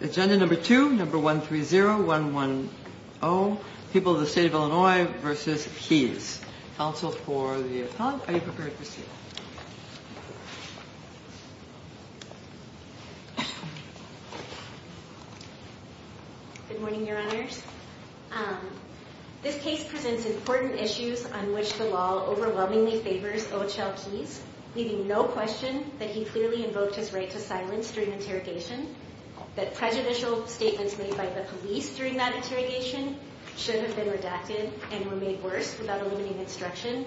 Good morning, Your Honors. This case presents important issues on which the law overwhelmingly favors Ochoa Keys, leaving no question that he clearly invoked his right to silence during interrogation, that Ochoa Keys is not guilty of any of the crimes he has committed, and that Ochoa Keys is not guilty of any of the crimes he has committed. that prejudicial statements made by the police during that interrogation should have been redacted and were made worse without eliminating instruction,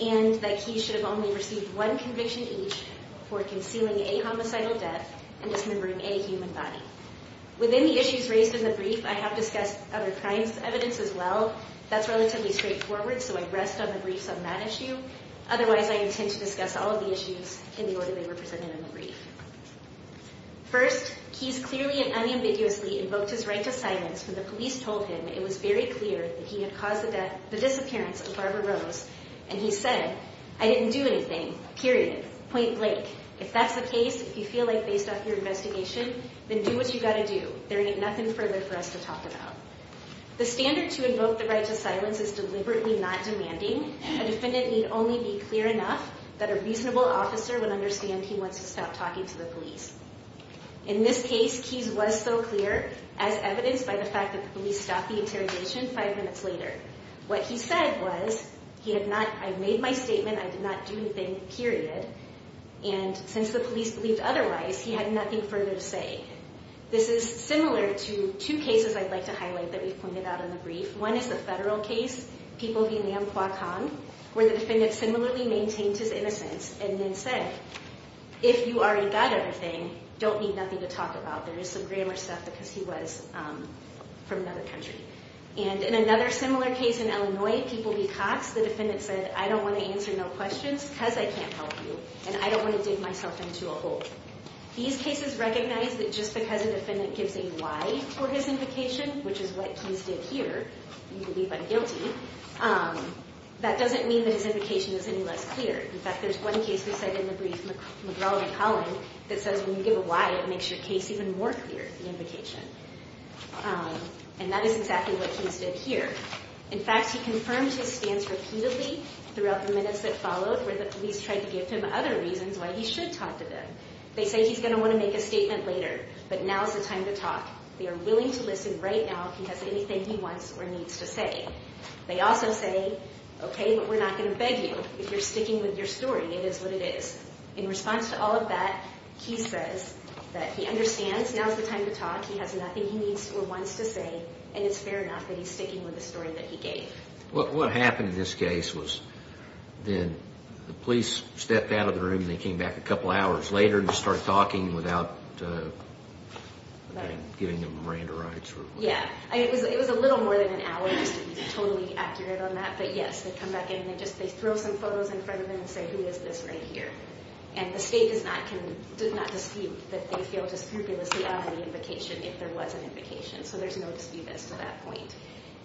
and that Keys should have only received one conviction each for concealing a homicidal death and dismembering a human body. Within the issues raised in the brief, I have discussed other crimes evidence as well. That's relatively straightforward, so I rest on the briefs on that issue. Otherwise, I intend to discuss all of the issues in the order they were presented in the brief. First, Keys clearly and unambiguously invoked his right to silence when the police told him it was very clear that he had caused the disappearance of Barbara Rose, and he said, I didn't do anything. Period. Point Blake. If that's the case, if you feel like based off your investigation, then do what you gotta do. There ain't nothing further for us to talk about. The standard to invoke the right to silence is deliberately not demanding. A defendant need only be clear enough that a reasonable officer would understand he wants to stop talking to the police. In this case, Keys was so clear, as evidenced by the fact that the police stopped the interrogation five minutes later. What he said was, he had not – I made my statement, I did not do anything. Period. And since the police believed otherwise, he had nothing further to say. This is similar to two cases I'd like to highlight that we've pointed out in the brief. One is the federal case, People v. Lam Qua Cong, where the defendant similarly maintained his innocence and then said, if you already got everything, don't need nothing to talk about. There is some grammar stuff because he was from another country. And in another similar case in Illinois, People v. Cox, the defendant said, I don't want to answer no questions because I can't help you, and I don't want to dig myself into a hole. These cases recognize that just because a defendant gives a why for his invocation, which is what Keys did here, you believe I'm guilty, that doesn't mean that his invocation is any less clear. In fact, there's one case we cited in the brief, McGraw-McCollin, that says when you give a why, it makes your case even more clear, the invocation. And that is exactly what Keys did here. In fact, he confirmed his stance repeatedly throughout the minutes that followed where the police tried to give him other reasons why he should talk to them. They say he's going to want to make a statement later, but now's the time to talk. They are willing to listen right now if he has anything he wants or needs to say. They also say, okay, but we're not going to beg you if you're sticking with your story. It is what it is. In response to all of that, Keys says that he understands now's the time to talk, he has nothing he needs or wants to say, and it's fair enough that he's sticking with the story that he gave. What happened in this case was then the police stepped out of the room and they came back a couple hours later and just started talking without giving them Miranda rights? Yeah, it was a little more than an hour, just to be totally accurate on that, but yes, they come back in and they throw some photos in front of them and say, who is this right here? And the state does not dispute that they feel just frivolously under the invocation if there was an invocation, so there's no dispute as to that point.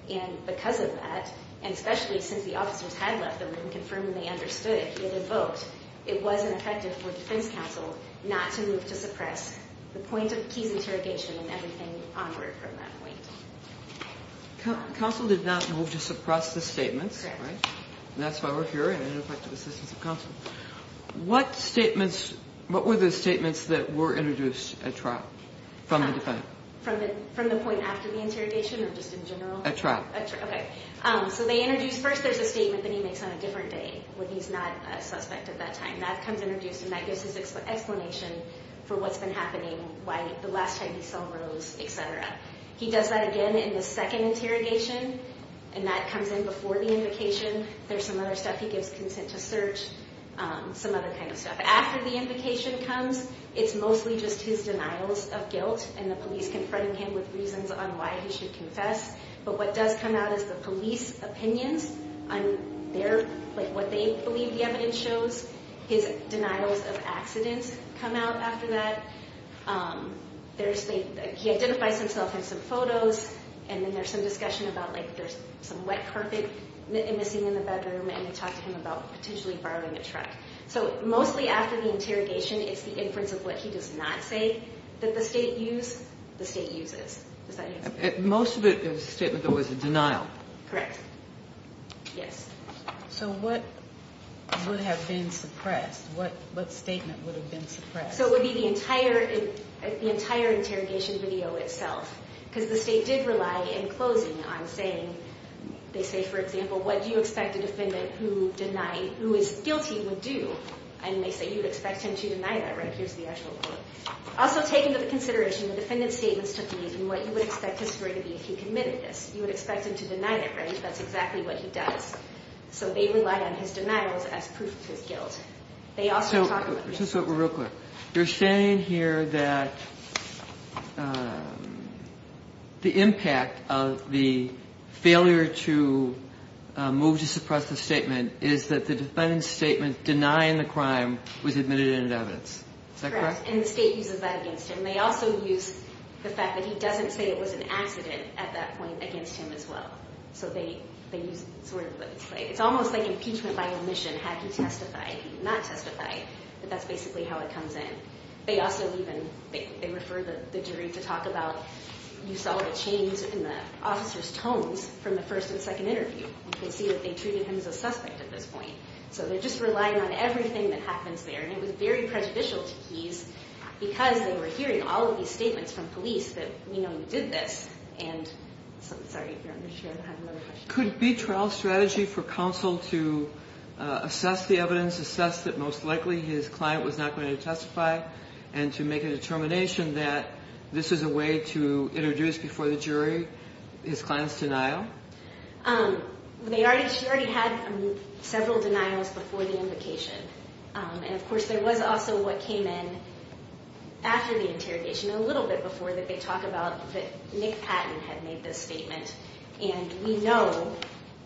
And because of that, and especially since the officers had left the room confirming they understood it invoked, it wasn't effective for defense counsel not to move to suppress the point of Keys' interrogation and everything onward from that point. Counsel did not move to suppress the statements, right? That's why we're here and an effective assistance of counsel. What statements, what were the statements that were introduced at trial from the defendant? From the point after the interrogation or just in general? At trial. At trial, okay. So they introduced, first there's a statement that he makes on a different day when he's not a suspect at that time. That comes introduced and that gives his explanation for what's been happening, why the last time he saw Rose, etc. He does that again in the second interrogation and that comes in before the invocation. There's some other stuff, he gives consent to search, some other kind of stuff. After the invocation comes, it's mostly just his denials of guilt and the police confronting him with reasons on why he should confess. But what does come out is the police opinions on their, like what they believe the evidence shows. His denials of accidents come out after that. He identifies himself in some photos and then there's some discussion about like there's some wet carpet missing in the bedroom and they talk to him about potentially borrowing a truck. So mostly after the interrogation, it's the inference of what he does not say that the state used, the state uses. Does that answer your question? Most of it is a statement that was a denial. Correct. Yes. So what would have been suppressed? What statement would have been suppressed? So it would be the entire interrogation video itself. Because the state did rely in closing on saying, they say for example, what do you expect a defendant who denied, who is guilty would do? And they say you'd expect him to deny that, right? Here's the actual quote. Also take into consideration the defendant's statements took these and what you would expect his story to be if he committed this. You would expect him to deny that, right? That's exactly what he does. So they rely on his denials as proof to his guilt. Just real quick. You're saying here that the impact of the failure to move to suppress the statement is that the defendant's statement denying the crime was admitted as evidence. Is that correct? Correct. And the state uses that against him. They also use the fact that he doesn't say it was an accident at that point against him as well. It's almost like impeachment by omission. Have you testified? Have you not testified? But that's basically how it comes in. They also refer the jury to talk about you saw the change in the officer's tones from the first and second interview. You can see that they treated him as a suspect at this point. So they're just relying on everything that happens there. And it was very prejudicial to Keyes because they were hearing all of these statements from police that we know you did this. Sorry, if you're not sure, I have another question. Could it be trial strategy for counsel to assess the evidence, assess that most likely his client was not going to testify, and to make a determination that this is a way to introduce before the jury his client's denial? They already had several denials before the invocation. And, of course, there was also what came in after the interrogation, a little bit before that they talk about that Nick Patton had made this statement. And we know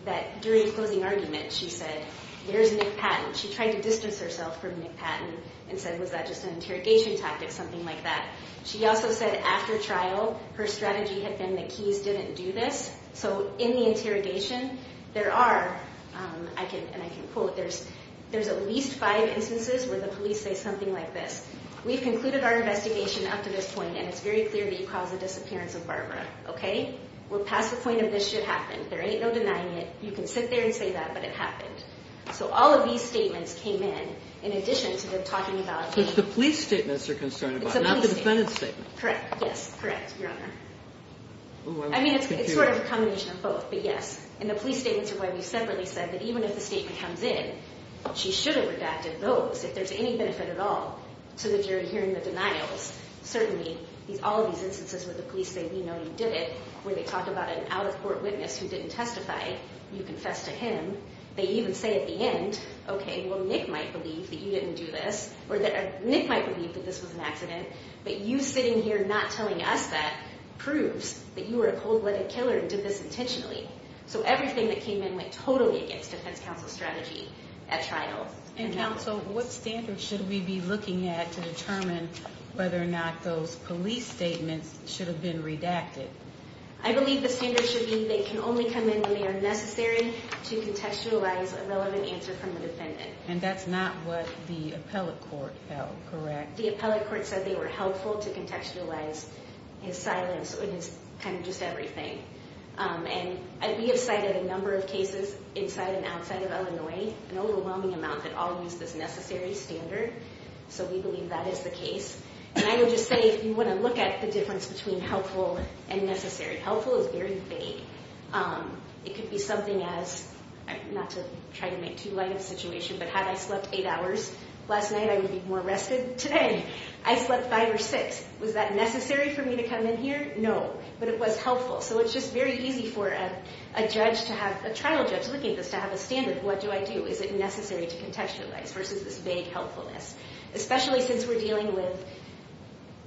that during the closing argument she said, there's Nick Patton. She tried to distance herself from Nick Patton and said, was that just an interrogation tactic, something like that. She also said after trial her strategy had been that Keyes didn't do this. So in the interrogation there are, and I can quote, there's at least five instances where the police say something like this. We've concluded our investigation up to this point, and it's very clear that you caused the disappearance of Barbara, okay? We're past the point of this should happen. There ain't no denying it. You can sit there and say that, but it happened. So all of these statements came in in addition to them talking about me. So it's the police statements they're concerned about, not the defendant's statements. Correct, yes, correct, Your Honor. I mean, it's sort of a combination of both, but yes. And the police statements are why we separately said that even if the statement comes in, she should have redacted those if there's any benefit at all. So that you're hearing the denials. Certainly, all of these instances where the police say, we know you did it, where they talk about an out-of-court witness who didn't testify, you confess to him. They even say at the end, okay, well, Nick might believe that you didn't do this, or Nick might believe that this was an accident, but you sitting here not telling us that proves that you were a cold-blooded killer and did this intentionally. So everything that came in went totally against defense counsel's strategy at trial. And counsel, what standards should we be looking at to determine whether or not those police statements should have been redacted? I believe the standards should be they can only come in when they are necessary to contextualize a relevant answer from the defendant. And that's not what the appellate court held, correct? The appellate court said they were helpful to contextualize his silence and his kind of just everything. And we have cited a number of cases inside and outside of Illinois, an overwhelming amount that all use this necessary standard. So we believe that is the case. And I would just say, if you want to look at the difference between helpful and necessary, helpful is very vague. It could be something as, not to try to make too light of a situation, but had I slept eight hours last night, I would be more rested today. I slept five or six. Was that necessary for me to come in here? No. But it was helpful. So it's just very easy for a judge to have, a trial judge looking at this, to have a standard. What do I do? Is it necessary to contextualize versus this vague helpfulness? Especially since we're dealing with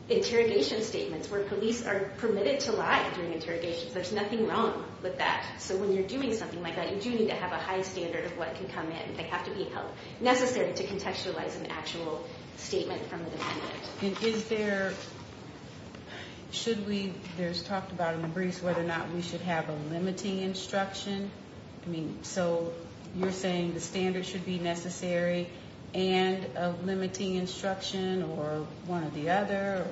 interrogation statements where police are permitted to lie during interrogations. There's nothing wrong with that. So when you're doing something like that, you do need to have a high standard of what can come in. They have to be necessary to contextualize an actual statement from the defendant. And is there, should we, there's talked about in the briefs whether or not we should have a limiting instruction? I mean, so you're saying the standard should be necessary and a limiting instruction or one or the other?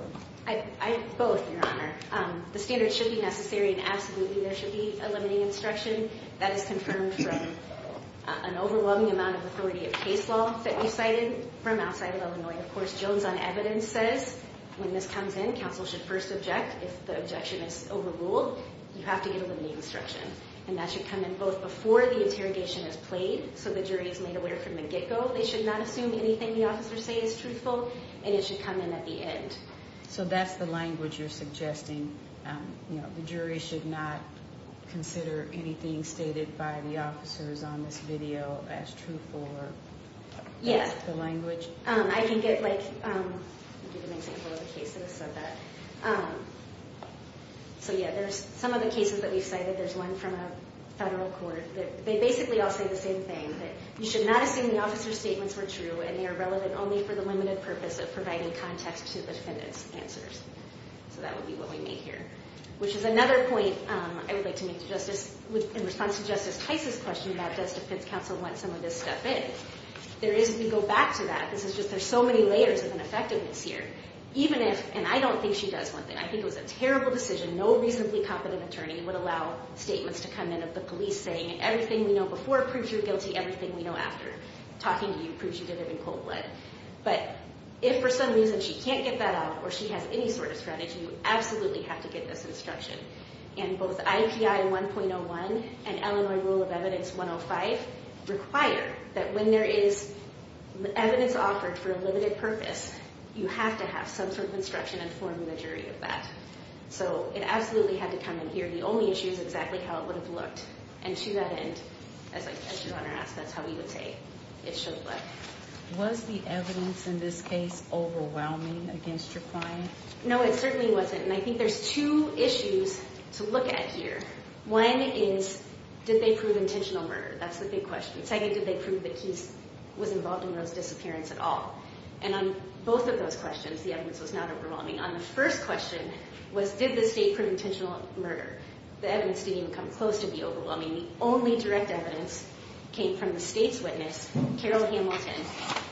Both, Your Honor. The standard should be necessary and absolutely there should be a limiting instruction. That is confirmed from an overwhelming amount of authority of case law that we've cited from outside of Illinois. And, of course, Jones on evidence says when this comes in, counsel should first object. If the objection is overruled, you have to get a limiting instruction. And that should come in both before the interrogation is played so the jury is made aware from the get-go. They should not assume anything the officers say is truthful, and it should come in at the end. So that's the language you're suggesting? The jury should not consider anything stated by the officers on this video as truthful or that's the language? I can get, like, an example of a case that has said that. So, yeah, there's some of the cases that we've cited. There's one from a federal court. They basically all say the same thing, that you should not assume the officers' statements were true and they are relevant only for the limited purpose of providing context to the defendant's answers. So that would be what we made here, which is another point I would like to make to Justice, in response to Justice Tice's question about does defense counsel want some of this stuff in. There is, if we go back to that, this is just there's so many layers of ineffectiveness here. Even if, and I don't think she does want that. I think it was a terrible decision. No reasonably competent attorney would allow statements to come in of the police saying everything we know before proves you're guilty, everything we know after talking to you proves you did it in cold blood. But if for some reason she can't get that out or she has any sort of strategy, you absolutely have to get this instruction. And both IPI 1.01 and Illinois Rule of Evidence 105 require that when there is evidence offered for a limited purpose, you have to have some sort of instruction informing the jury of that. So it absolutely had to come in here. The only issue is exactly how it would have looked. And to that end, as your Honor asked, that's how we would say it should look. Was the evidence in this case overwhelming against your client? No, it certainly wasn't. And I think there's two issues to look at here. One is did they prove intentional murder? That's the big question. Second, did they prove that Keyes was involved in Rose's disappearance at all? And on both of those questions, the evidence was not overwhelming. On the first question was did the state prove intentional murder? The evidence didn't even come close to be overwhelming. The only direct evidence came from the state's witness, Carol Hamilton,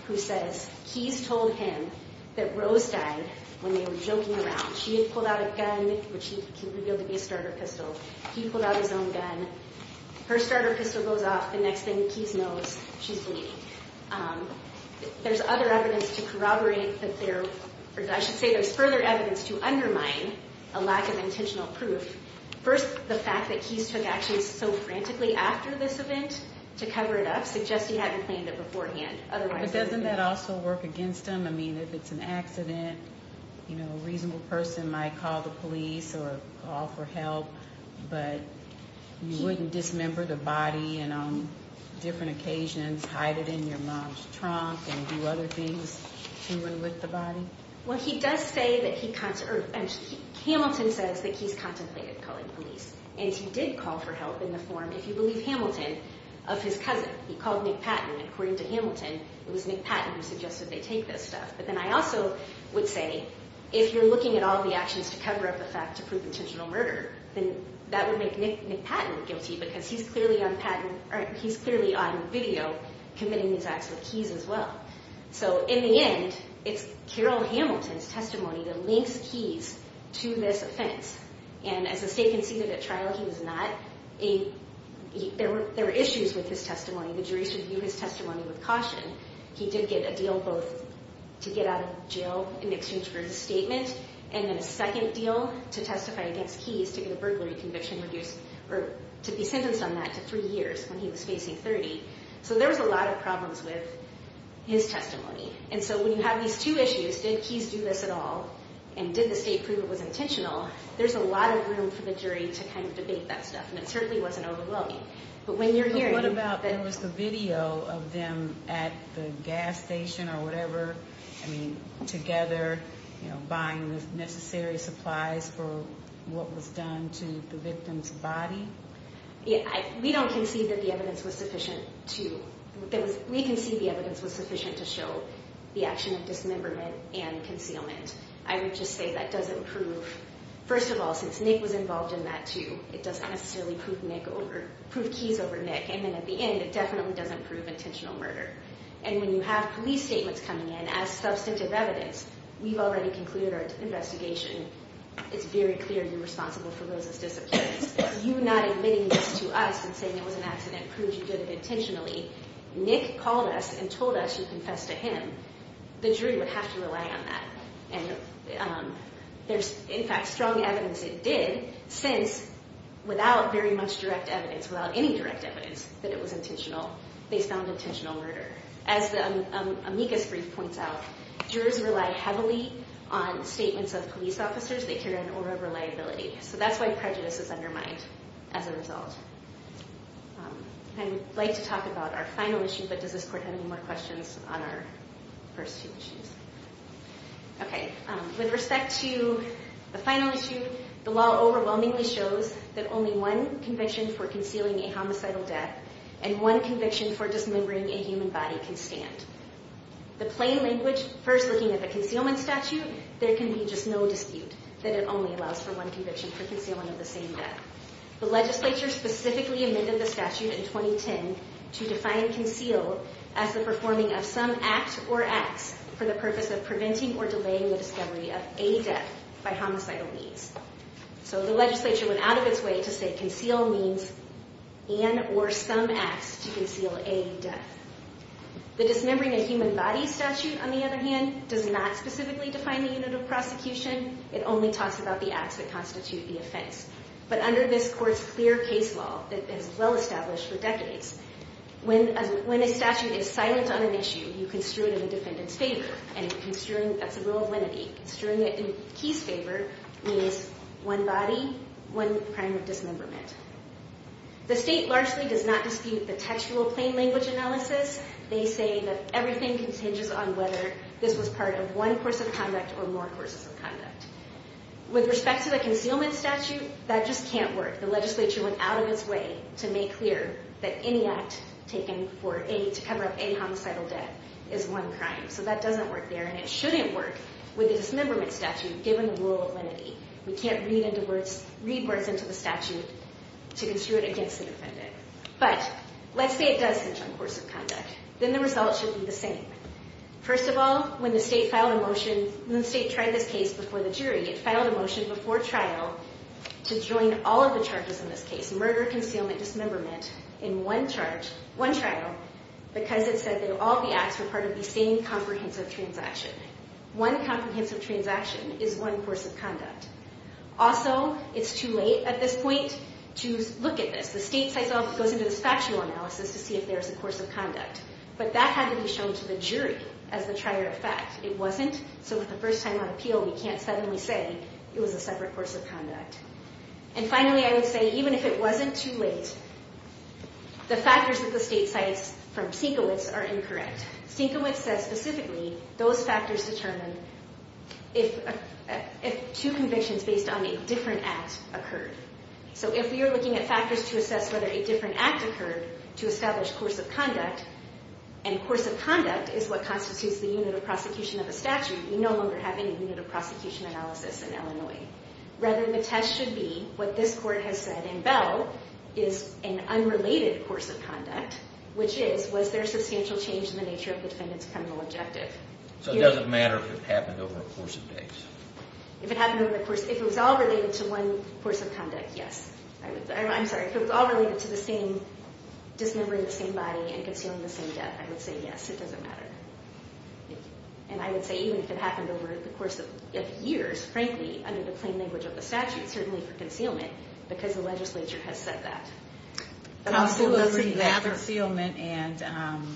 who says Keyes told him that Rose died when they were joking around. She had pulled out a gun, which he revealed to be a starter pistol. He pulled out his own gun. Her starter pistol goes off. The next thing Keyes knows, she's bleeding. There's other evidence to corroborate that there – or I should say there's further evidence to undermine a lack of intentional proof. First, the fact that Keyes took action so frantically after this event to cover it up suggests he hadn't planned it beforehand. But doesn't that also work against him? I mean, if it's an accident, a reasonable person might call the police or call for help, but you wouldn't dismember the body and on different occasions hide it in your mom's trunk and do other things to and with the body? Well, he does say that he – Hamilton says that Keyes contemplated calling police, and he did call for help in the form, if you believe Hamilton, of his cousin. He called Nick Patton, and according to Hamilton, it was Nick Patton who suggested they take this stuff. But then I also would say if you're looking at all the actions to cover up the fact to prove intentional murder, then that would make Nick Patton guilty because he's clearly on video committing these acts with Keyes as well. So in the end, it's Carroll Hamilton's testimony that links Keyes to this offense. And as the state conceded at trial, he was not a – there were issues with his testimony. The jury should view his testimony with caution. He did get a deal both to get out of jail in exchange for his statement and then a second deal to testify against Keyes to get a burglary conviction reduced or to be sentenced on that to three years when he was facing 30. So there was a lot of problems with his testimony. And so when you have these two issues, did Keyes do this at all and did the state prove it was intentional, there's a lot of room for the jury to kind of debate that stuff, and it certainly wasn't overwhelming. But when you're hearing that— But what about there was the video of them at the gas station or whatever, I mean, together buying the necessary supplies for what was done to the victim's body? We don't concede that the evidence was sufficient to – we concede the evidence was sufficient to show the action of dismemberment and concealment. I would just say that doesn't prove – first of all, since Nick was involved in that too, it doesn't necessarily prove Nick over – prove Keyes over Nick. And then at the end, it definitely doesn't prove intentional murder. And when you have police statements coming in as substantive evidence, we've already concluded our investigation. It's very clear you're responsible for Rosa's disappearance. You not admitting this to us and saying it was an accident proves you did it intentionally. Nick called us and told us you confessed to him. The jury would have to rely on that. And there's, in fact, strong evidence it did, since without very much direct evidence, without any direct evidence that it was intentional, they found intentional murder. As the amicus brief points out, jurors rely heavily on statements of police officers. They carry an aura of reliability. So that's why prejudice is undermined as a result. I would like to talk about our final issue, but does this court have any more questions on our first two issues? Okay. With respect to the final issue, the law overwhelmingly shows that only one conviction for concealing a homicidal death and one conviction for dismembering a human body can stand. The plain language, first looking at the concealment statute, there can be just no dispute that it only allows for one conviction for concealing of the same death. The legislature specifically amended the statute in 2010 to define conceal as the performing of some act or acts for the purpose of preventing or delaying the discovery of a death by homicidal means. So the legislature went out of its way to say conceal means an or some acts to conceal a death. The dismembering a human body statute, on the other hand, does not specifically define the unit of prosecution. It only talks about the acts that constitute the offense. But under this court's clear case law that has been well established for decades, when a statute is silent on an issue, you construe it in the defendant's favor. And construing, that's a rule of limity. Construing it in his favor means one body, one crime of dismemberment. The state largely does not dispute the textual plain language analysis. They say that everything hinges on whether this was part of one course of conduct or more courses of conduct. With respect to the concealment statute, that just can't work. The legislature went out of its way to make clear that any act taken to cover up a homicidal death is one crime. So that doesn't work there, and it shouldn't work with a dismemberment statute given the rule of limity. We can't read words into the statute to construe it against the defendant. But let's say it does hinge on course of conduct. Then the result should be the same. First of all, when the state filed a motion, when the state tried this case before the jury, it filed a motion before trial to join all of the charges in this case, murder, concealment, dismemberment, in one charge, one trial, because it said that all the acts were part of the same comprehensive transaction. One comprehensive transaction is one course of conduct. Also, it's too late at this point to look at this. The state itself goes into this factual analysis to see if there is a course of conduct. But that had to be shown to the jury as the trier of fact. It wasn't. So with the first time on appeal, we can't suddenly say it was a separate course of conduct. And finally, I would say even if it wasn't too late, the factors that the state cites from Stinkowitz are incorrect. Stinkowitz says specifically those factors determine if two convictions based on a different act occurred. So if we are looking at factors to assess whether a different act occurred to establish course of conduct, and course of conduct is what constitutes the unit of prosecution of a statute, we no longer have any unit of prosecution analysis in Illinois. Rather, the test should be what this court has said in Bell is an unrelated course of conduct, which is was there substantial change in the nature of the defendant's criminal objective? So it doesn't matter if it happened over a course of days? If it happened over a course of days. If it was all related to one course of conduct, yes. I'm sorry. If it was all related to the same, dismembering the same body and concealing the same death, I would say yes. It doesn't matter. And I would say even if it happened over the course of years, frankly, under the plain language of the statute, certainly for concealment, because the legislature has said that. Concealment and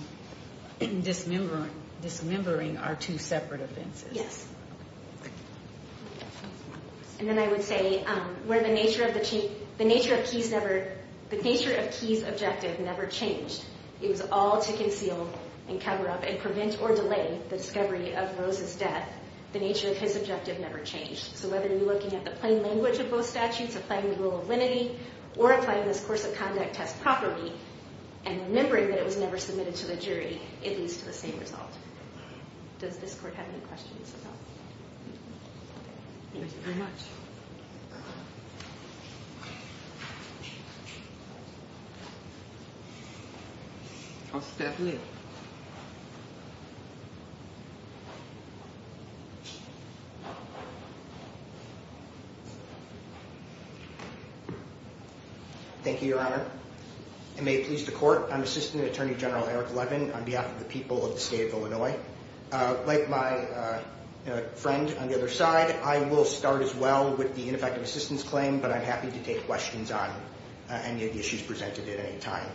dismembering are two separate offenses. Yes. And then I would say the nature of Key's objective never changed. It was all to conceal and cover up and prevent or delay the discovery of Rose's death. The nature of his objective never changed. So whether you're looking at the plain language of both statutes, applying the rule of limity, or applying this course of conduct test properly and remembering that it was never submitted to the jury, it leads to the same result. Does this court have any questions at all? Thank you very much. I'll step away. Thank you, Your Honor. And may it please the court, I'm Assistant Attorney General Eric Levin. On behalf of the people of the state of Illinois, like my friend on the other side, I will start as well with the ineffective assistance claim, but I'm happy to take questions on any of the issues presented at any time.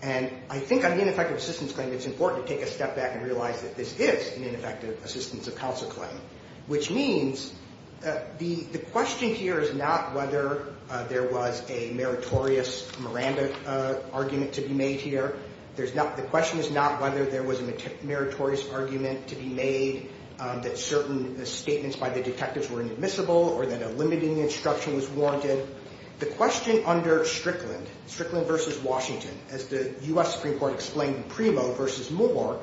And I think on the ineffective assistance claim, it's important to take a step back and realize that this is an ineffective assistance of counsel claim, which means the question here is not whether there was a meritorious Miranda argument to be made here. The question is not whether there was a meritorious argument to be made that certain statements by the detectives were inadmissible or that a limiting instruction was warranted. The question under Strickland, Strickland v. Washington, as the U.S. Supreme Court explained in Primo v. Moore,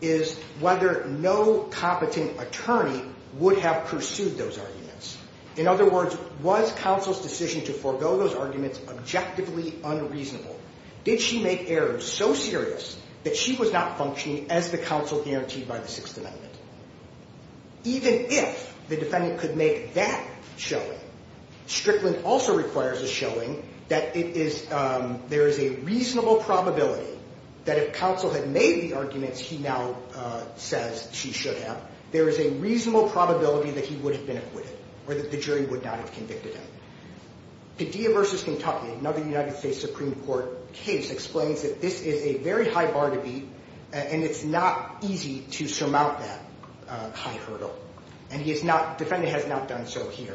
is whether no competent attorney would have pursued those arguments. In other words, was counsel's decision to forego those arguments objectively unreasonable? Did she make errors so serious that she was not functioning as the counsel guaranteed by the Sixth Amendment? Even if the defendant could make that showing, Strickland also requires a showing that there is a reasonable probability that if counsel had made the arguments he now says she should have, there is a reasonable probability that he would have been acquitted or that the jury would not have convicted him. Padilla v. Kentucky, another United States Supreme Court case, explains that this is a very high bar to beat, and it's not easy to surmount that high hurdle, and the defendant has not done so here.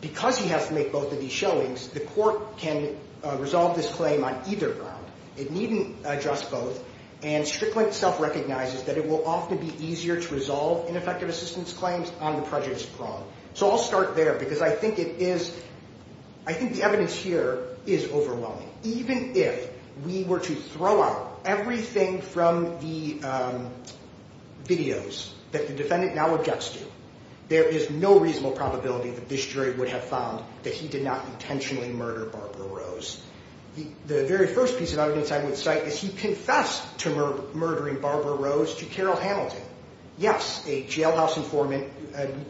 Because he has to make both of these showings, the court can resolve this claim on either ground. It needn't address both, and Strickland self-recognizes that it will often be easier to resolve ineffective assistance claims on the prejudice prong. So I'll start there, because I think the evidence here is overwhelming. Even if we were to throw out everything from the videos that the defendant now objects to, there is no reasonable probability that this jury would have found that he did not intentionally murder Barbara Rose. The very first piece of evidence I would cite is he confessed to murdering Barbara Rose to Carol Hamilton. Yes, a jailhouse informant,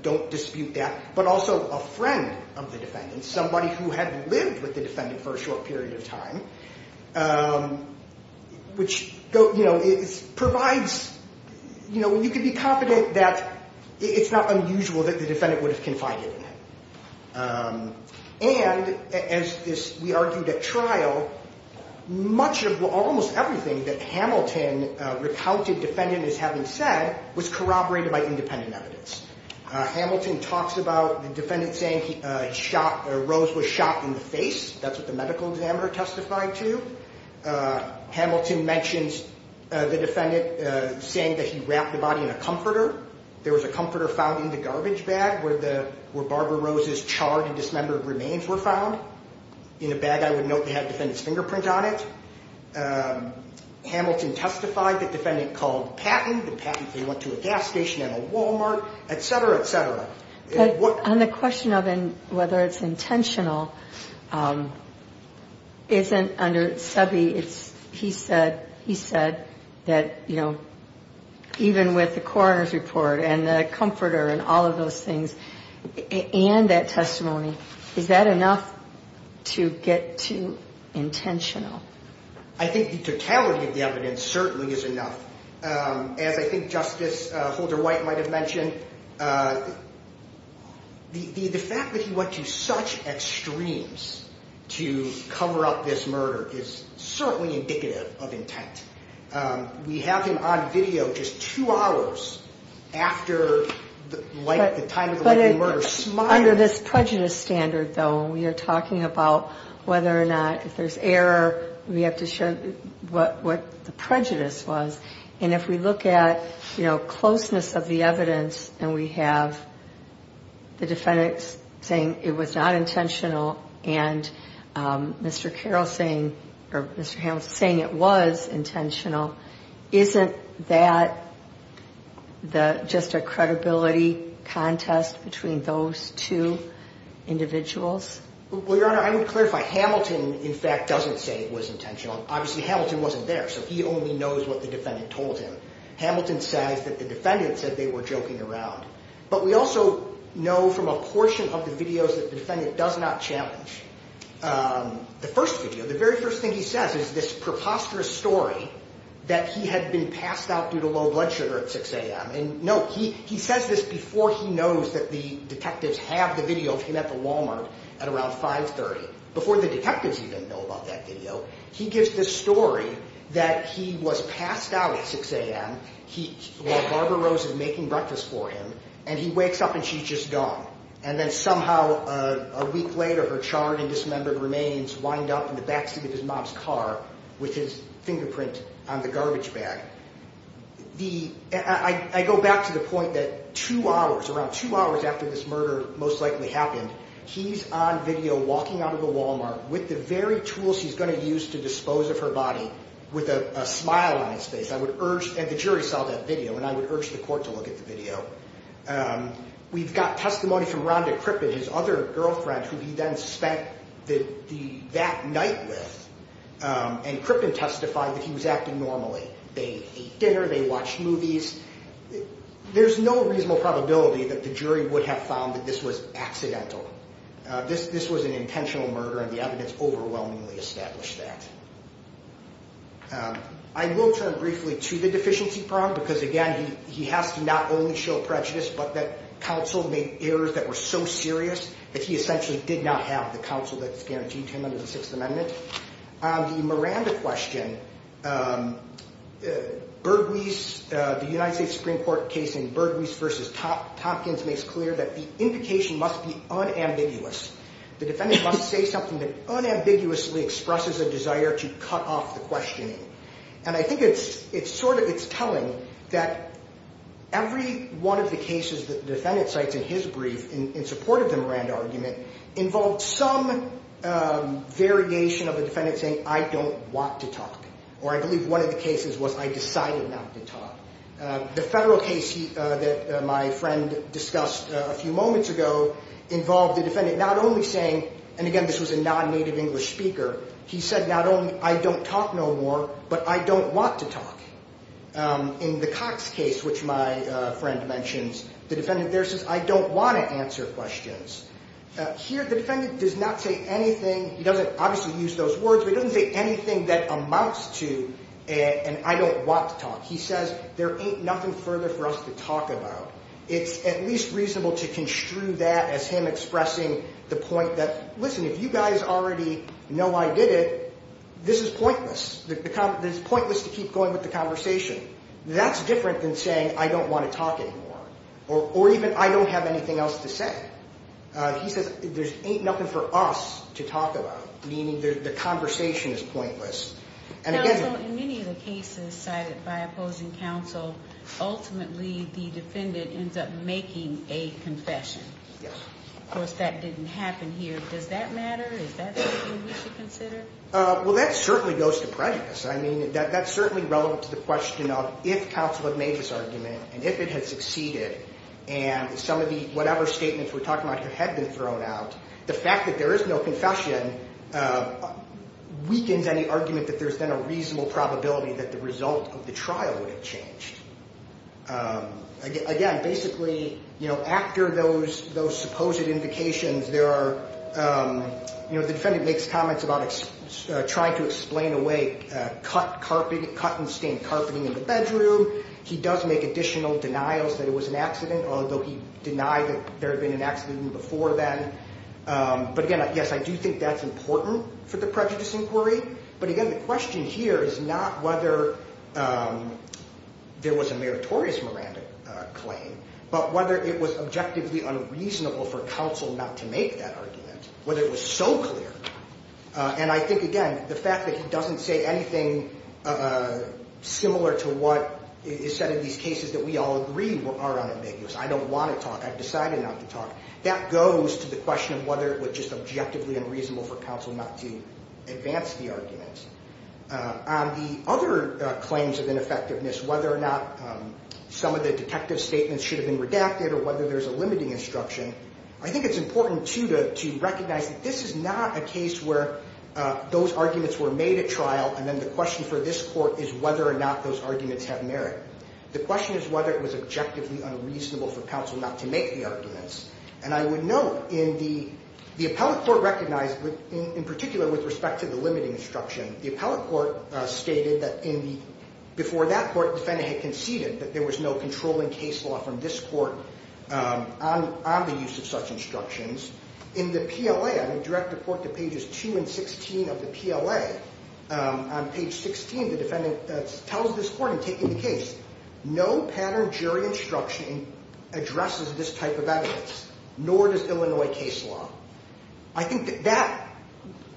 don't dispute that, but also a friend of the defendant, somebody who had lived with the defendant for a short period of time, which provides, you can be confident that it's not unusual that the defendant would have confided in him. And as we argued at trial, almost everything that Hamilton recounted defendant as having said was corroborated by independent evidence. Hamilton talks about the defendant saying Rose was shot in the face. That's what the medical examiner testified to. Hamilton mentions the defendant saying that he wrapped the body in a comforter. There was a comforter found in the garbage bag where Barbara Rose's charred and dismembered remains were found. In a bag I would note that had the defendant's fingerprint on it. Hamilton testified that the defendant called Patton. Patton went to a gas station and a Walmart, et cetera, et cetera. On the question of whether it's intentional, isn't under SEBI, he said that, you know, even with the coroner's report and the comforter and all of those things and that testimony, is that enough to get to intentional? I think the totality of the evidence certainly is enough. As I think Justice Holder-White might have mentioned, the fact that he went to such extremes to cover up this murder is certainly indicative of intent. We have him on video just two hours after the time of the murder. Under this prejudice standard, though, we are talking about whether or not if there's error, we have to show what the prejudice was. And if we look at, you know, closeness of the evidence and we have the defendant saying it was not intentional and Mr. Carroll saying or Mr. Hamilton saying it was intentional, isn't that just a credibility contest between those two individuals? Well, Your Honor, I would clarify. Hamilton, in fact, doesn't say it was intentional. Obviously, Hamilton wasn't there, so he only knows what the defendant told him. Hamilton says that the defendant said they were joking around. But we also know from a portion of the videos that the defendant does not challenge. The first video, the very first thing he says is this preposterous story that he had been passed out due to low blood sugar at 6 a.m. And no, he says this before he knows that the detectives have the video of him at the Walmart at around 5.30. Before the detectives even know about that video, he gives this story that he was passed out at 6 a.m. while Barbara Rose is making breakfast for him and he wakes up and she's just gone. And then somehow a week later, her charred and dismembered remains wind up in the backseat of his mom's car with his fingerprint on the garbage bag. I go back to the point that two hours, around two hours after this murder most likely happened, he's on video walking out of the Walmart with the very tools he's going to use to dispose of her body with a smile on his face. I would urge, and the jury saw that video, and I would urge the court to look at the video. We've got testimony from Rhonda Crippen, his other girlfriend, who he then spent that night with. And Crippen testified that he was acting normally. They ate dinner, they watched movies. There's no reasonable probability that the jury would have found that this was accidental. This was an intentional murder and the evidence overwhelmingly established that. I will turn briefly to the deficiency problem because, again, he has to not only show prejudice, but that counsel made errors that were so serious that he essentially did not have the counsel that guaranteed him under the Sixth Amendment. On the Miranda question, Bergwies, the United States Supreme Court case in Bergwies v. Tompkins, makes clear that the indication must be unambiguous. The defendant must say something that unambiguously expresses a desire to cut off the questioning. And I think it's telling that every one of the cases that the defendant cites in his brief in support of the Miranda argument involved some variation of the defendant saying, I don't want to talk. Or I believe one of the cases was, I decided not to talk. The federal case that my friend discussed a few moments ago involved the defendant not only saying, and again this was a non-native English speaker, he said not only, I don't talk no more, but I don't want to talk. In the Cox case, which my friend mentions, the defendant there says, I don't want to answer questions. Here the defendant does not say anything, he doesn't obviously use those words, but he doesn't say anything that amounts to an I don't want to talk. He says, there ain't nothing further for us to talk about. It's at least reasonable to construe that as him expressing the point that, listen, if you guys already know I did it, this is pointless. It's pointless to keep going with the conversation. That's different than saying, I don't want to talk anymore. Or even, I don't have anything else to say. He says, there ain't nothing for us to talk about, meaning the conversation is pointless. Counsel, in many of the cases cited by opposing counsel, ultimately the defendant ends up making a confession. Yes. Of course, that didn't happen here. Does that matter? Is that something we should consider? Well, that certainly goes to prejudice. I mean, that's certainly relevant to the question of if counsel had made this argument, and if it had succeeded, and some of the whatever statements we're talking about had been thrown out, the fact that there is no confession weakens any argument that there's been a reasonable probability that the result of the trial would have changed. Again, basically, you know, after those supposed indications, there are, you know, the defendant makes comments about trying to explain away cut and stained carpeting in the bedroom. He does make additional denials that it was an accident, although he denied that there had been an accident before then. But again, yes, I do think that's important for the prejudice inquiry. But again, the question here is not whether there was a meritorious Miranda claim, but whether it was objectively unreasonable for counsel not to make that argument, whether it was so clear. And I think, again, the fact that he doesn't say anything similar to what is said in these cases that we all agree are unambiguous. I don't want to talk. I've decided not to talk. That goes to the question of whether it was just objectively unreasonable for counsel not to advance the arguments. On the other claims of ineffectiveness, whether or not some of the detective statements should have been redacted or whether there's a limiting instruction, I think it's important, too, to recognize that this is not a case where those arguments were made at trial and then the question for this court is whether or not those arguments have merit. The question is whether it was objectively unreasonable for counsel not to make the arguments. And I would note in the appellate court recognized, in particular with respect to the limiting instruction, the appellate court stated that before that court, the court defendant had conceded that there was no controlling case law from this court on the use of such instructions. In the PLA, on a direct report to pages 2 and 16 of the PLA, on page 16, the defendant tells this court in taking the case, no pattern jury instruction addresses this type of evidence, nor does Illinois case law. I think that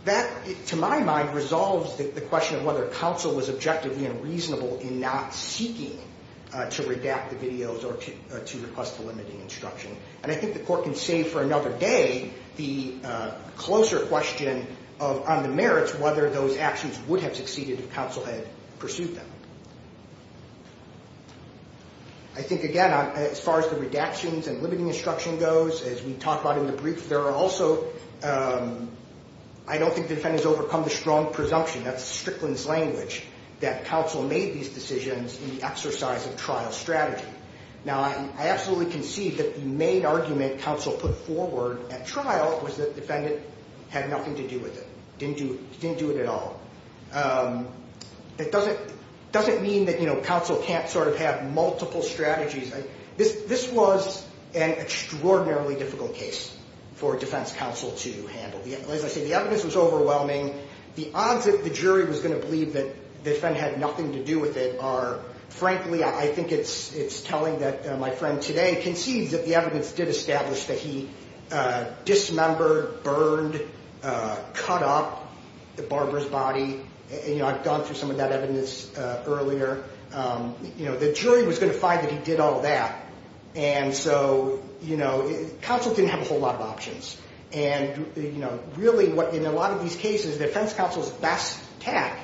that, to my mind, resolves the question of whether counsel was objectively unreasonable in not seeking to redact the videos or to request the limiting instruction. And I think the court can save for another day the closer question on the merits whether those actions would have succeeded if counsel had pursued them. I think, again, as far as the redactions and limiting instruction goes, as we talked about in the brief, there are also, I don't think the defendants overcome the strong presumption, that's Strickland's language, that counsel made these decisions in the exercise of trial strategy. Now, I absolutely concede that the main argument counsel put forward at trial was that the defendant had nothing to do with it, didn't do it at all. It doesn't mean that, you know, counsel can't sort of have multiple strategies. This was an extraordinarily difficult case for defense counsel to handle. As I said, the evidence was overwhelming. The odds that the jury was going to believe that the defendant had nothing to do with it are, frankly, I think it's telling that my friend today concedes that the evidence did establish that he dismembered, burned, cut up the barber's body. You know, I've gone through some of that evidence earlier. You know, the jury was going to find that he did all that. And so, you know, counsel didn't have a whole lot of options. And, you know, really what, in a lot of these cases, defense counsel's best tack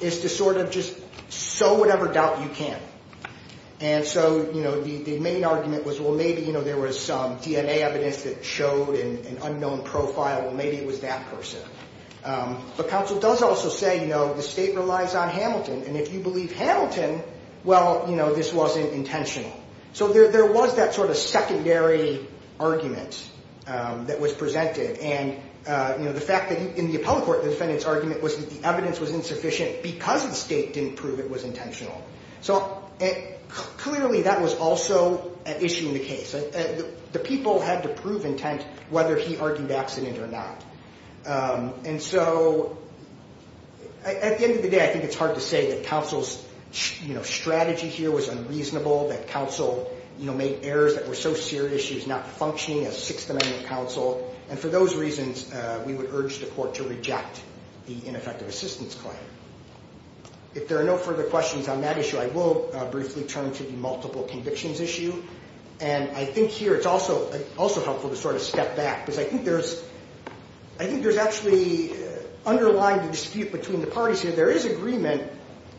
is to sort of just sow whatever doubt you can. And so, you know, the main argument was, well, maybe, you know, there was some DNA evidence that showed an unknown profile. Well, maybe it was that person. But counsel does also say, you know, the state relies on Hamilton. And if you believe Hamilton, well, you know, this wasn't intentional. So there was that sort of secondary argument that was presented. And, you know, the fact that in the appellate court the defendant's argument was that the evidence was insufficient because the state didn't prove it was intentional. So clearly that was also an issue in the case. The people had to prove intent whether he argued accident or not. And so at the end of the day, I think it's hard to say that counsel's, you know, strategy here was unreasonable, that counsel, you know, made errors that were so serious she was not functioning as Sixth Amendment counsel. And for those reasons, we would urge the court to reject the ineffective assistance claim. If there are no further questions on that issue, I will briefly turn to the multiple convictions issue. And I think here it's also helpful to sort of step back because I think there's actually underlying dispute between the parties here. There is agreement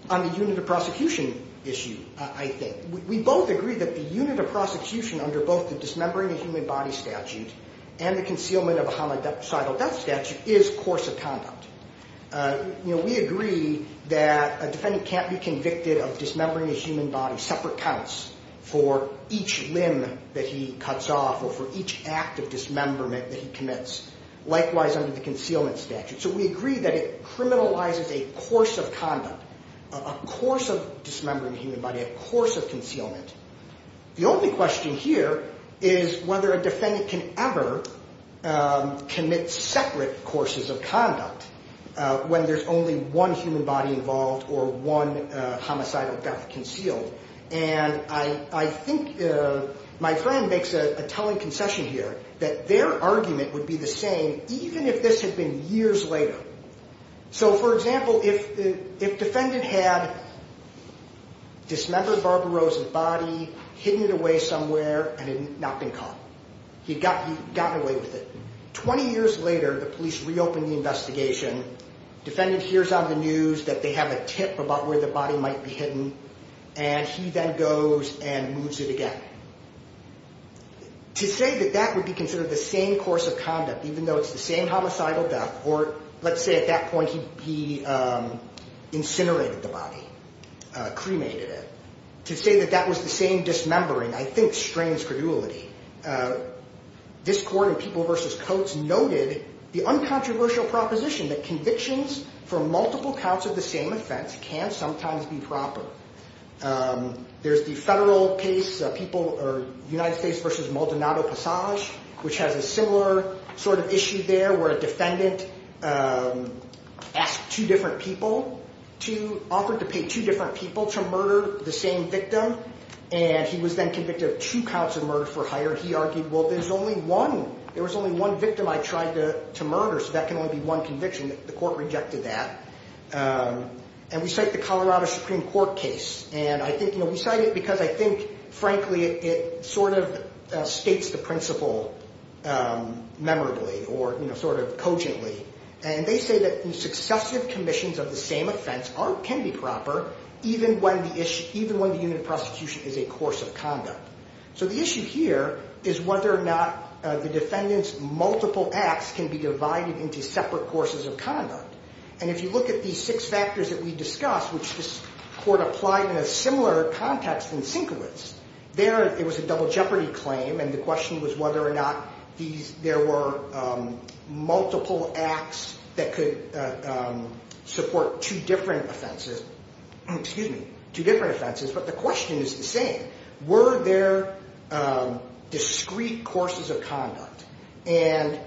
on the unit of prosecution issue, I think. We both agree that the unit of prosecution under both the dismembering of human body statute and the concealment of a homicide or death statute is course of conduct. You know, we agree that a defendant can't be convicted of dismembering a human body, separate counts, for each limb that he cuts off or for each act of dismemberment that he commits, likewise under the concealment statute. So we agree that it criminalizes a course of conduct, a course of dismembering a human body, a course of concealment. The only question here is whether a defendant can ever commit separate courses of conduct when there's only one human body involved or one homicidal death concealed. And I think my friend makes a telling concession here that their argument would be the same even if this had been years later. So, for example, if defendant had dismembered Barbara Rose's body, hidden it away somewhere, and had not been caught. He'd gotten away with it. Twenty years later, the police reopened the investigation. Defendant hears on the news that they have a tip about where the body might be hidden, and he then goes and moves it again. To say that that would be considered the same course of conduct, even though it's the same homicidal death, or let's say at that point he incinerated the body, cremated it. To say that that was the same dismembering, I think, strains credulity. This court in People v. Coates noted the uncontroversial proposition that convictions for multiple counts of the same offense can sometimes be proper. There's the federal case, United States v. Maldonado Passage, which has a similar sort of issue there where a defendant asked two different people, offered to pay two different people to murder the same victim. And he was then convicted of two counts of murder for hire. He argued, well, there was only one victim I tried to murder, so that can only be one conviction. The court rejected that. And we cite the Colorado Supreme Court case. And we cite it because I think, frankly, it sort of states the principle memorably or sort of cogently. And they say that successive commissions of the same offense can be proper, even when the unit of prosecution is a course of conduct. So the issue here is whether or not the defendant's multiple acts can be divided into separate courses of conduct. And if you look at these six factors that we discussed, which this court applied in a similar context in Sinkowitz, there it was a double jeopardy claim. And the question was whether or not there were multiple acts that could support two different offenses. Excuse me, two different offenses. But the question is the same. Were there discrete courses of conduct? And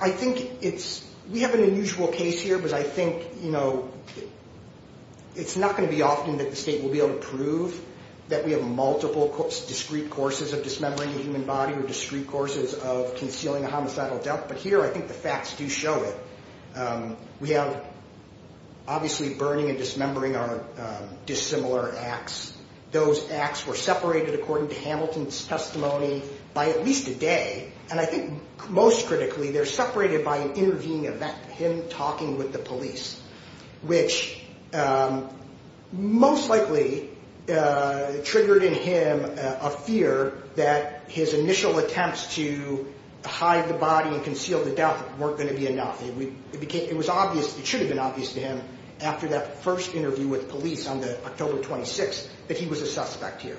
I think it's we have an unusual case here because I think, you know, it's not going to be often that the state will be able to prove that we have multiple discrete courses of dismembering a human body or discrete courses of concealing a homicidal death. But here I think the facts do show it. We have obviously burning and dismembering are dissimilar acts. Those acts were separated, according to Hamilton's testimony, by at least a day. And I think most critically they're separated by an intervening event, him talking with the police, which most likely triggered in him a fear that his initial attempts to hide the body and conceal the death weren't going to be enough. It should have been obvious to him after that first interview with police on the October 26th that he was a suspect here.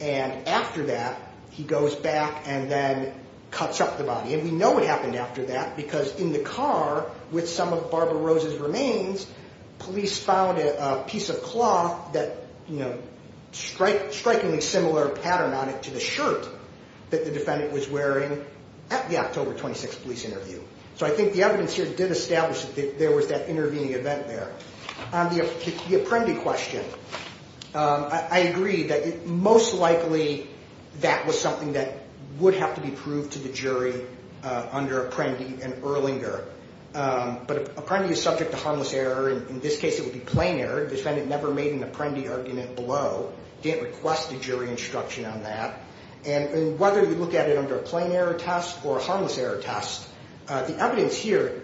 And after that, he goes back and then cuts up the body. And we know what happened after that because in the car with some of Barbara Rose's remains, police found a piece of cloth that, you know, strikingly similar pattern on it to the shirt that the defendant was wearing at the October 26th police interview. So I think the evidence here did establish that there was that intervening event there. On the Apprendi question, I agree that most likely that was something that would have to be proved to the jury under Apprendi and Erlinger. But Apprendi is subject to harmless error. In this case, it would be plain error. The defendant never made an Apprendi argument below, didn't request a jury instruction on that. And whether we look at it under a plain error test or a harmless error test, the evidence here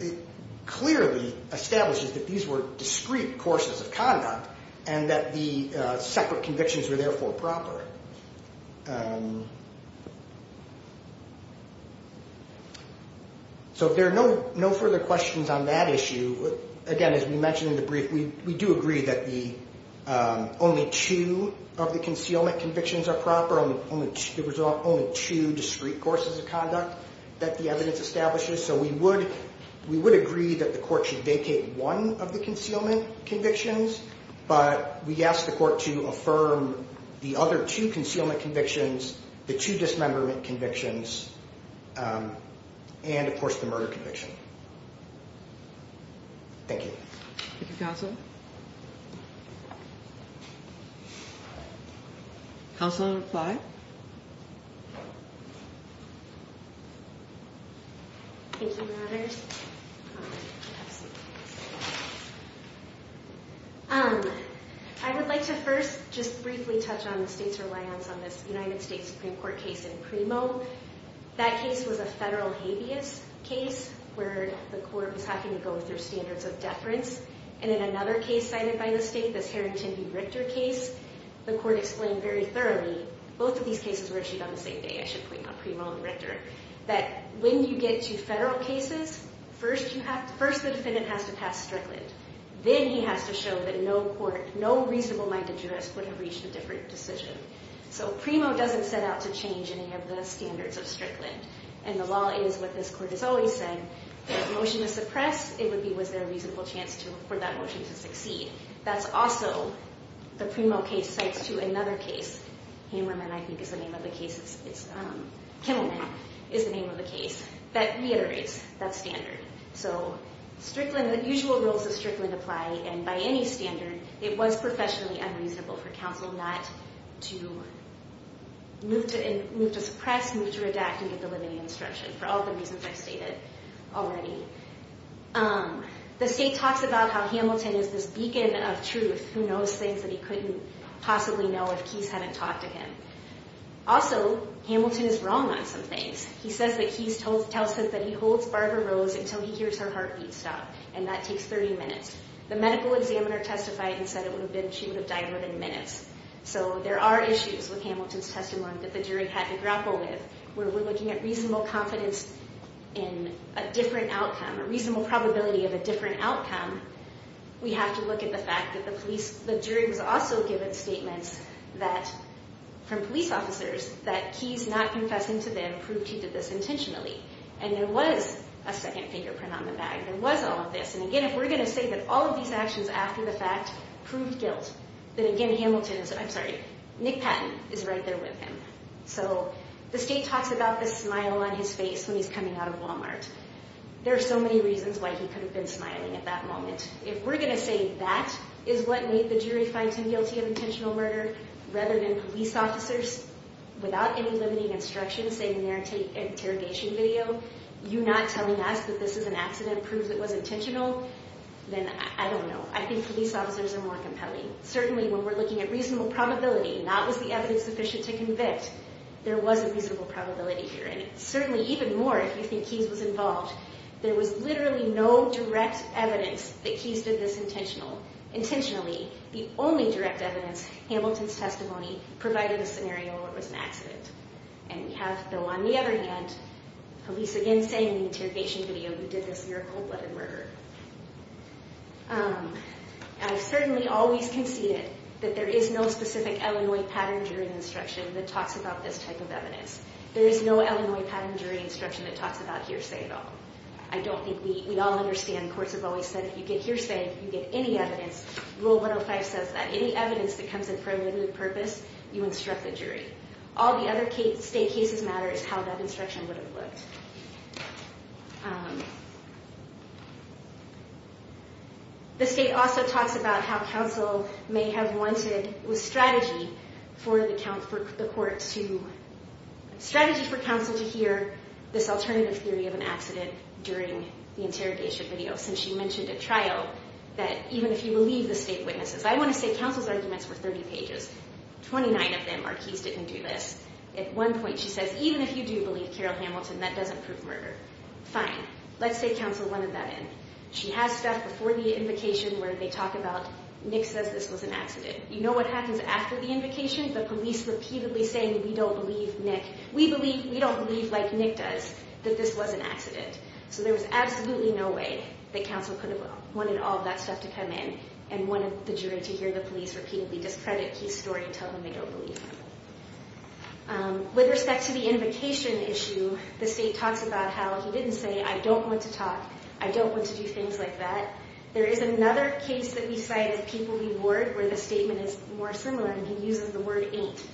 clearly establishes that these were discrete courses of conduct and that the separate convictions were therefore proper. So if there are no further questions on that issue, again, as we mentioned in the brief, we do agree that only two of the concealment convictions are proper. There was only two discrete courses of conduct that the evidence establishes. So we would agree that the court should vacate one of the concealment convictions, but we ask the court to affirm the other two concealment convictions, the two dismemberment convictions, and, of course, the murder conviction. Thank you. Thank you, counsel. Counsel? Counsel to reply? Thank you, Your Honors. I would like to first just briefly touch on the state's reliance on this United States Supreme Court case in PRIMO. That case was a federal habeas case where the court was having to go through standards of deference. And in another case cited by the state, this Harrington v. Richter case, the court explained very thoroughly. Both of these cases were issued on the same day, I should point out, PRIMO and Richter, that when you get to federal cases, first the defendant has to pass Strickland. Then he has to show that no reasonable-minded jurist would have reached a different decision. So PRIMO doesn't set out to change any of the standards of Strickland. And the law is what this court has always said. If a motion is suppressed, it would be was there a reasonable chance for that motion to succeed. That's also the PRIMO case cites to another case, Kimmelman, I think is the name of the case, that reiterates that standard. So the usual rules of Strickland apply. And by any standard, it was professionally unreasonable for counsel not to move to suppress, move to redact, and get the limiting instruction for all the reasons I've stated already. The state talks about how Hamilton is this beacon of truth who knows things that he couldn't possibly know if Keyes hadn't talked to him. Also, Hamilton is wrong on some things. He says that Keyes tells him that he holds Barbara Rose until he hears her heartbeat stop, and that takes 30 minutes. The medical examiner testified and said it would have been she would have died within minutes. So there are issues with Hamilton's testimony that the jury had to grapple with where we're looking at reasonable confidence in a different outcome, a reasonable probability of a different outcome. We have to look at the fact that the jury was also given statements from police officers that Keyes not confessing to them proved he did this intentionally. And there was a second fingerprint on the bag. There was all of this. And again, if we're going to say that all of these actions after the fact proved guilt, then again, Nick Patton is right there with him. So the state talks about this smile on his face when he's coming out of Walmart. There are so many reasons why he could have been smiling at that moment. If we're going to say that is what made the jury find him guilty of intentional murder rather than police officers without any limiting instructions, saying in their interrogation video, you not telling us that this is an accident proves it was intentional, then I don't know. I think police officers are more compelling. Certainly, when we're looking at reasonable probability, not was the evidence sufficient to convict, there was a reasonable probability here. And certainly, even more, if you think Keyes was involved, there was literally no direct evidence that Keyes did this intentionally. The only direct evidence, Hamilton's testimony, provided a scenario where it was an accident. And we have, though, on the other hand, police again saying in the interrogation video, you did this in your cold-blooded murder. I've certainly always conceded that there is no specific Illinois pattern during the instruction that talks about this type of evidence. There is no Illinois pattern during instruction that talks about hearsay at all. I don't think we all understand. Courts have always said if you get hearsay, you get any evidence. Rule 105 says that any evidence that comes in for a limited purpose, you instruct the jury. All the other state cases matter is how that instruction would have looked. The state also talks about how counsel may have wanted a strategy for the court to, strategy for counsel to hear this alternative theory of an accident during the interrogation video. Since she mentioned at trial that even if you believe the state witnesses, I want to say counsel's arguments were 30 pages. 29 of them are Keyes didn't do this. At one point she says, even if you do believe Carol Hamilton, that doesn't prove murder. Fine. Let's say counsel wanted that in. She has stuff before the invocation where they talk about Nick says this was an accident. You know what happens after the invocation? The police repeatedly saying we don't believe Nick. We believe, we don't believe like Nick does that this was an accident. So there was absolutely no way that counsel could have wanted all that stuff to come in and wanted the jury to hear the police repeatedly discredit Keyes' story and tell them they don't believe him. With respect to the invocation issue, the state talks about how he didn't say I don't want to talk. I don't want to do things like that. There is another case that we cited, People v. Ward, where the statement is more similar and he uses the word ain't.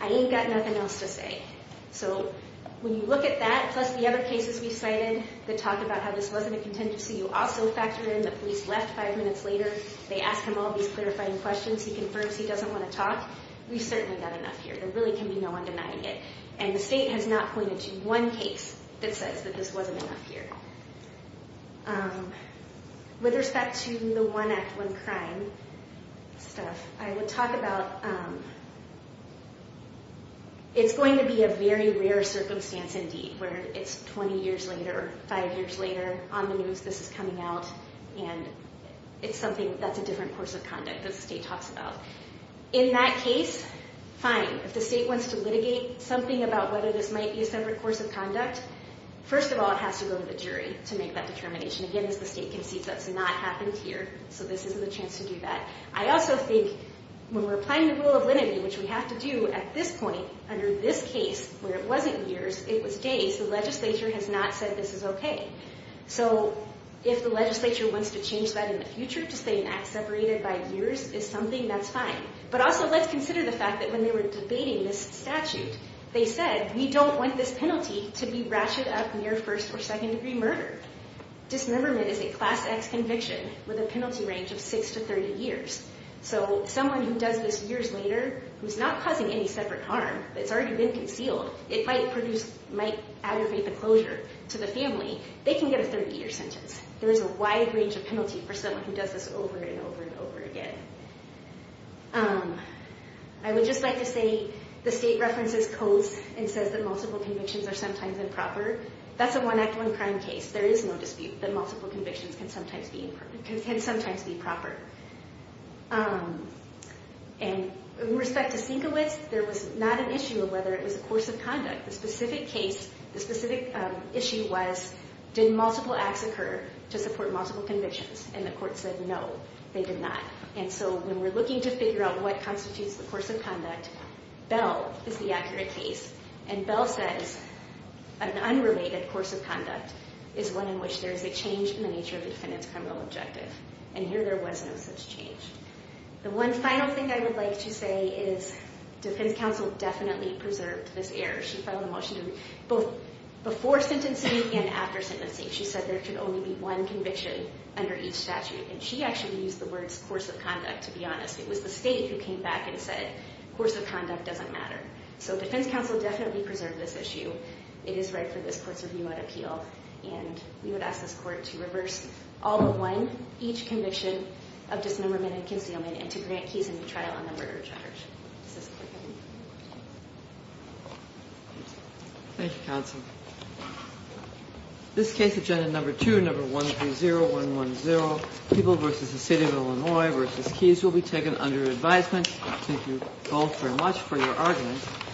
I ain't got nothing else to say. So when you look at that, plus the other cases we cited that talk about how this wasn't a contingency, you also factor in the police left five minutes later. They ask him all these clarifying questions. He confirms he doesn't want to talk. We certainly got enough here. There really can be no one denying it. And the state has not pointed to one case that says that this wasn't enough here. With respect to the one act, one crime stuff, I would talk about it's going to be a very rare circumstance indeed where it's 20 years later or five years later on the news this is coming out. And it's something that's a different course of conduct that the state talks about. In that case, fine. If the state wants to litigate something about whether this might be a separate course of conduct, first of all, it has to go to the jury to make that determination. Again, as the state concedes that's not happened here, so this isn't a chance to do that. I also think when we're applying the rule of lenity, which we have to do at this point under this case where it wasn't years, it was days, the legislature has not said this is okay. So if the legislature wants to change that in the future to say an act separated by years is something, that's fine. But also let's consider the fact that when they were debating this statute, they said we don't want this penalty to be ratcheted up near first or second degree murder. Dismemberment is a class X conviction with a penalty range of six to 30 years. So someone who does this years later, who's not causing any separate harm, but it's already been concealed, it might aggravate the closure to the family, they can get a 30-year sentence. There is a wide range of penalty for someone who does this over and over and over again. I would just like to say the state references codes and says that multiple convictions are sometimes improper. That's a one act, one crime case. There is no dispute that multiple convictions can sometimes be improper. And with respect to Sienkiewicz, there was not an issue of whether it was a course of conduct. The specific case, the specific issue was did multiple acts occur to support multiple convictions? And the court said no, they did not. And so when we're looking to figure out what constitutes the course of conduct, Bell is the accurate case. And Bell says an unrelated course of conduct is one in which there is a change in the nature of the defendant's criminal objective. And here there was no such change. The one final thing I would like to say is defense counsel definitely preserved this error. She filed a motion both before sentencing and after sentencing. She said there could only be one conviction under each statute. And she actually used the words course of conduct, to be honest. It was the state who came back and said course of conduct doesn't matter. So defense counsel definitely preserved this issue. It is right for this court's review and appeal. And we would ask this court to reverse all but one, each conviction of dismemberment and concealment, and to grant Keyes a new trial on the murder charge. Thank you, counsel. This case, agenda number two, number 130110, people versus the city of Illinois versus Keyes, will be taken under advisement. Thank you both very much for your arguments.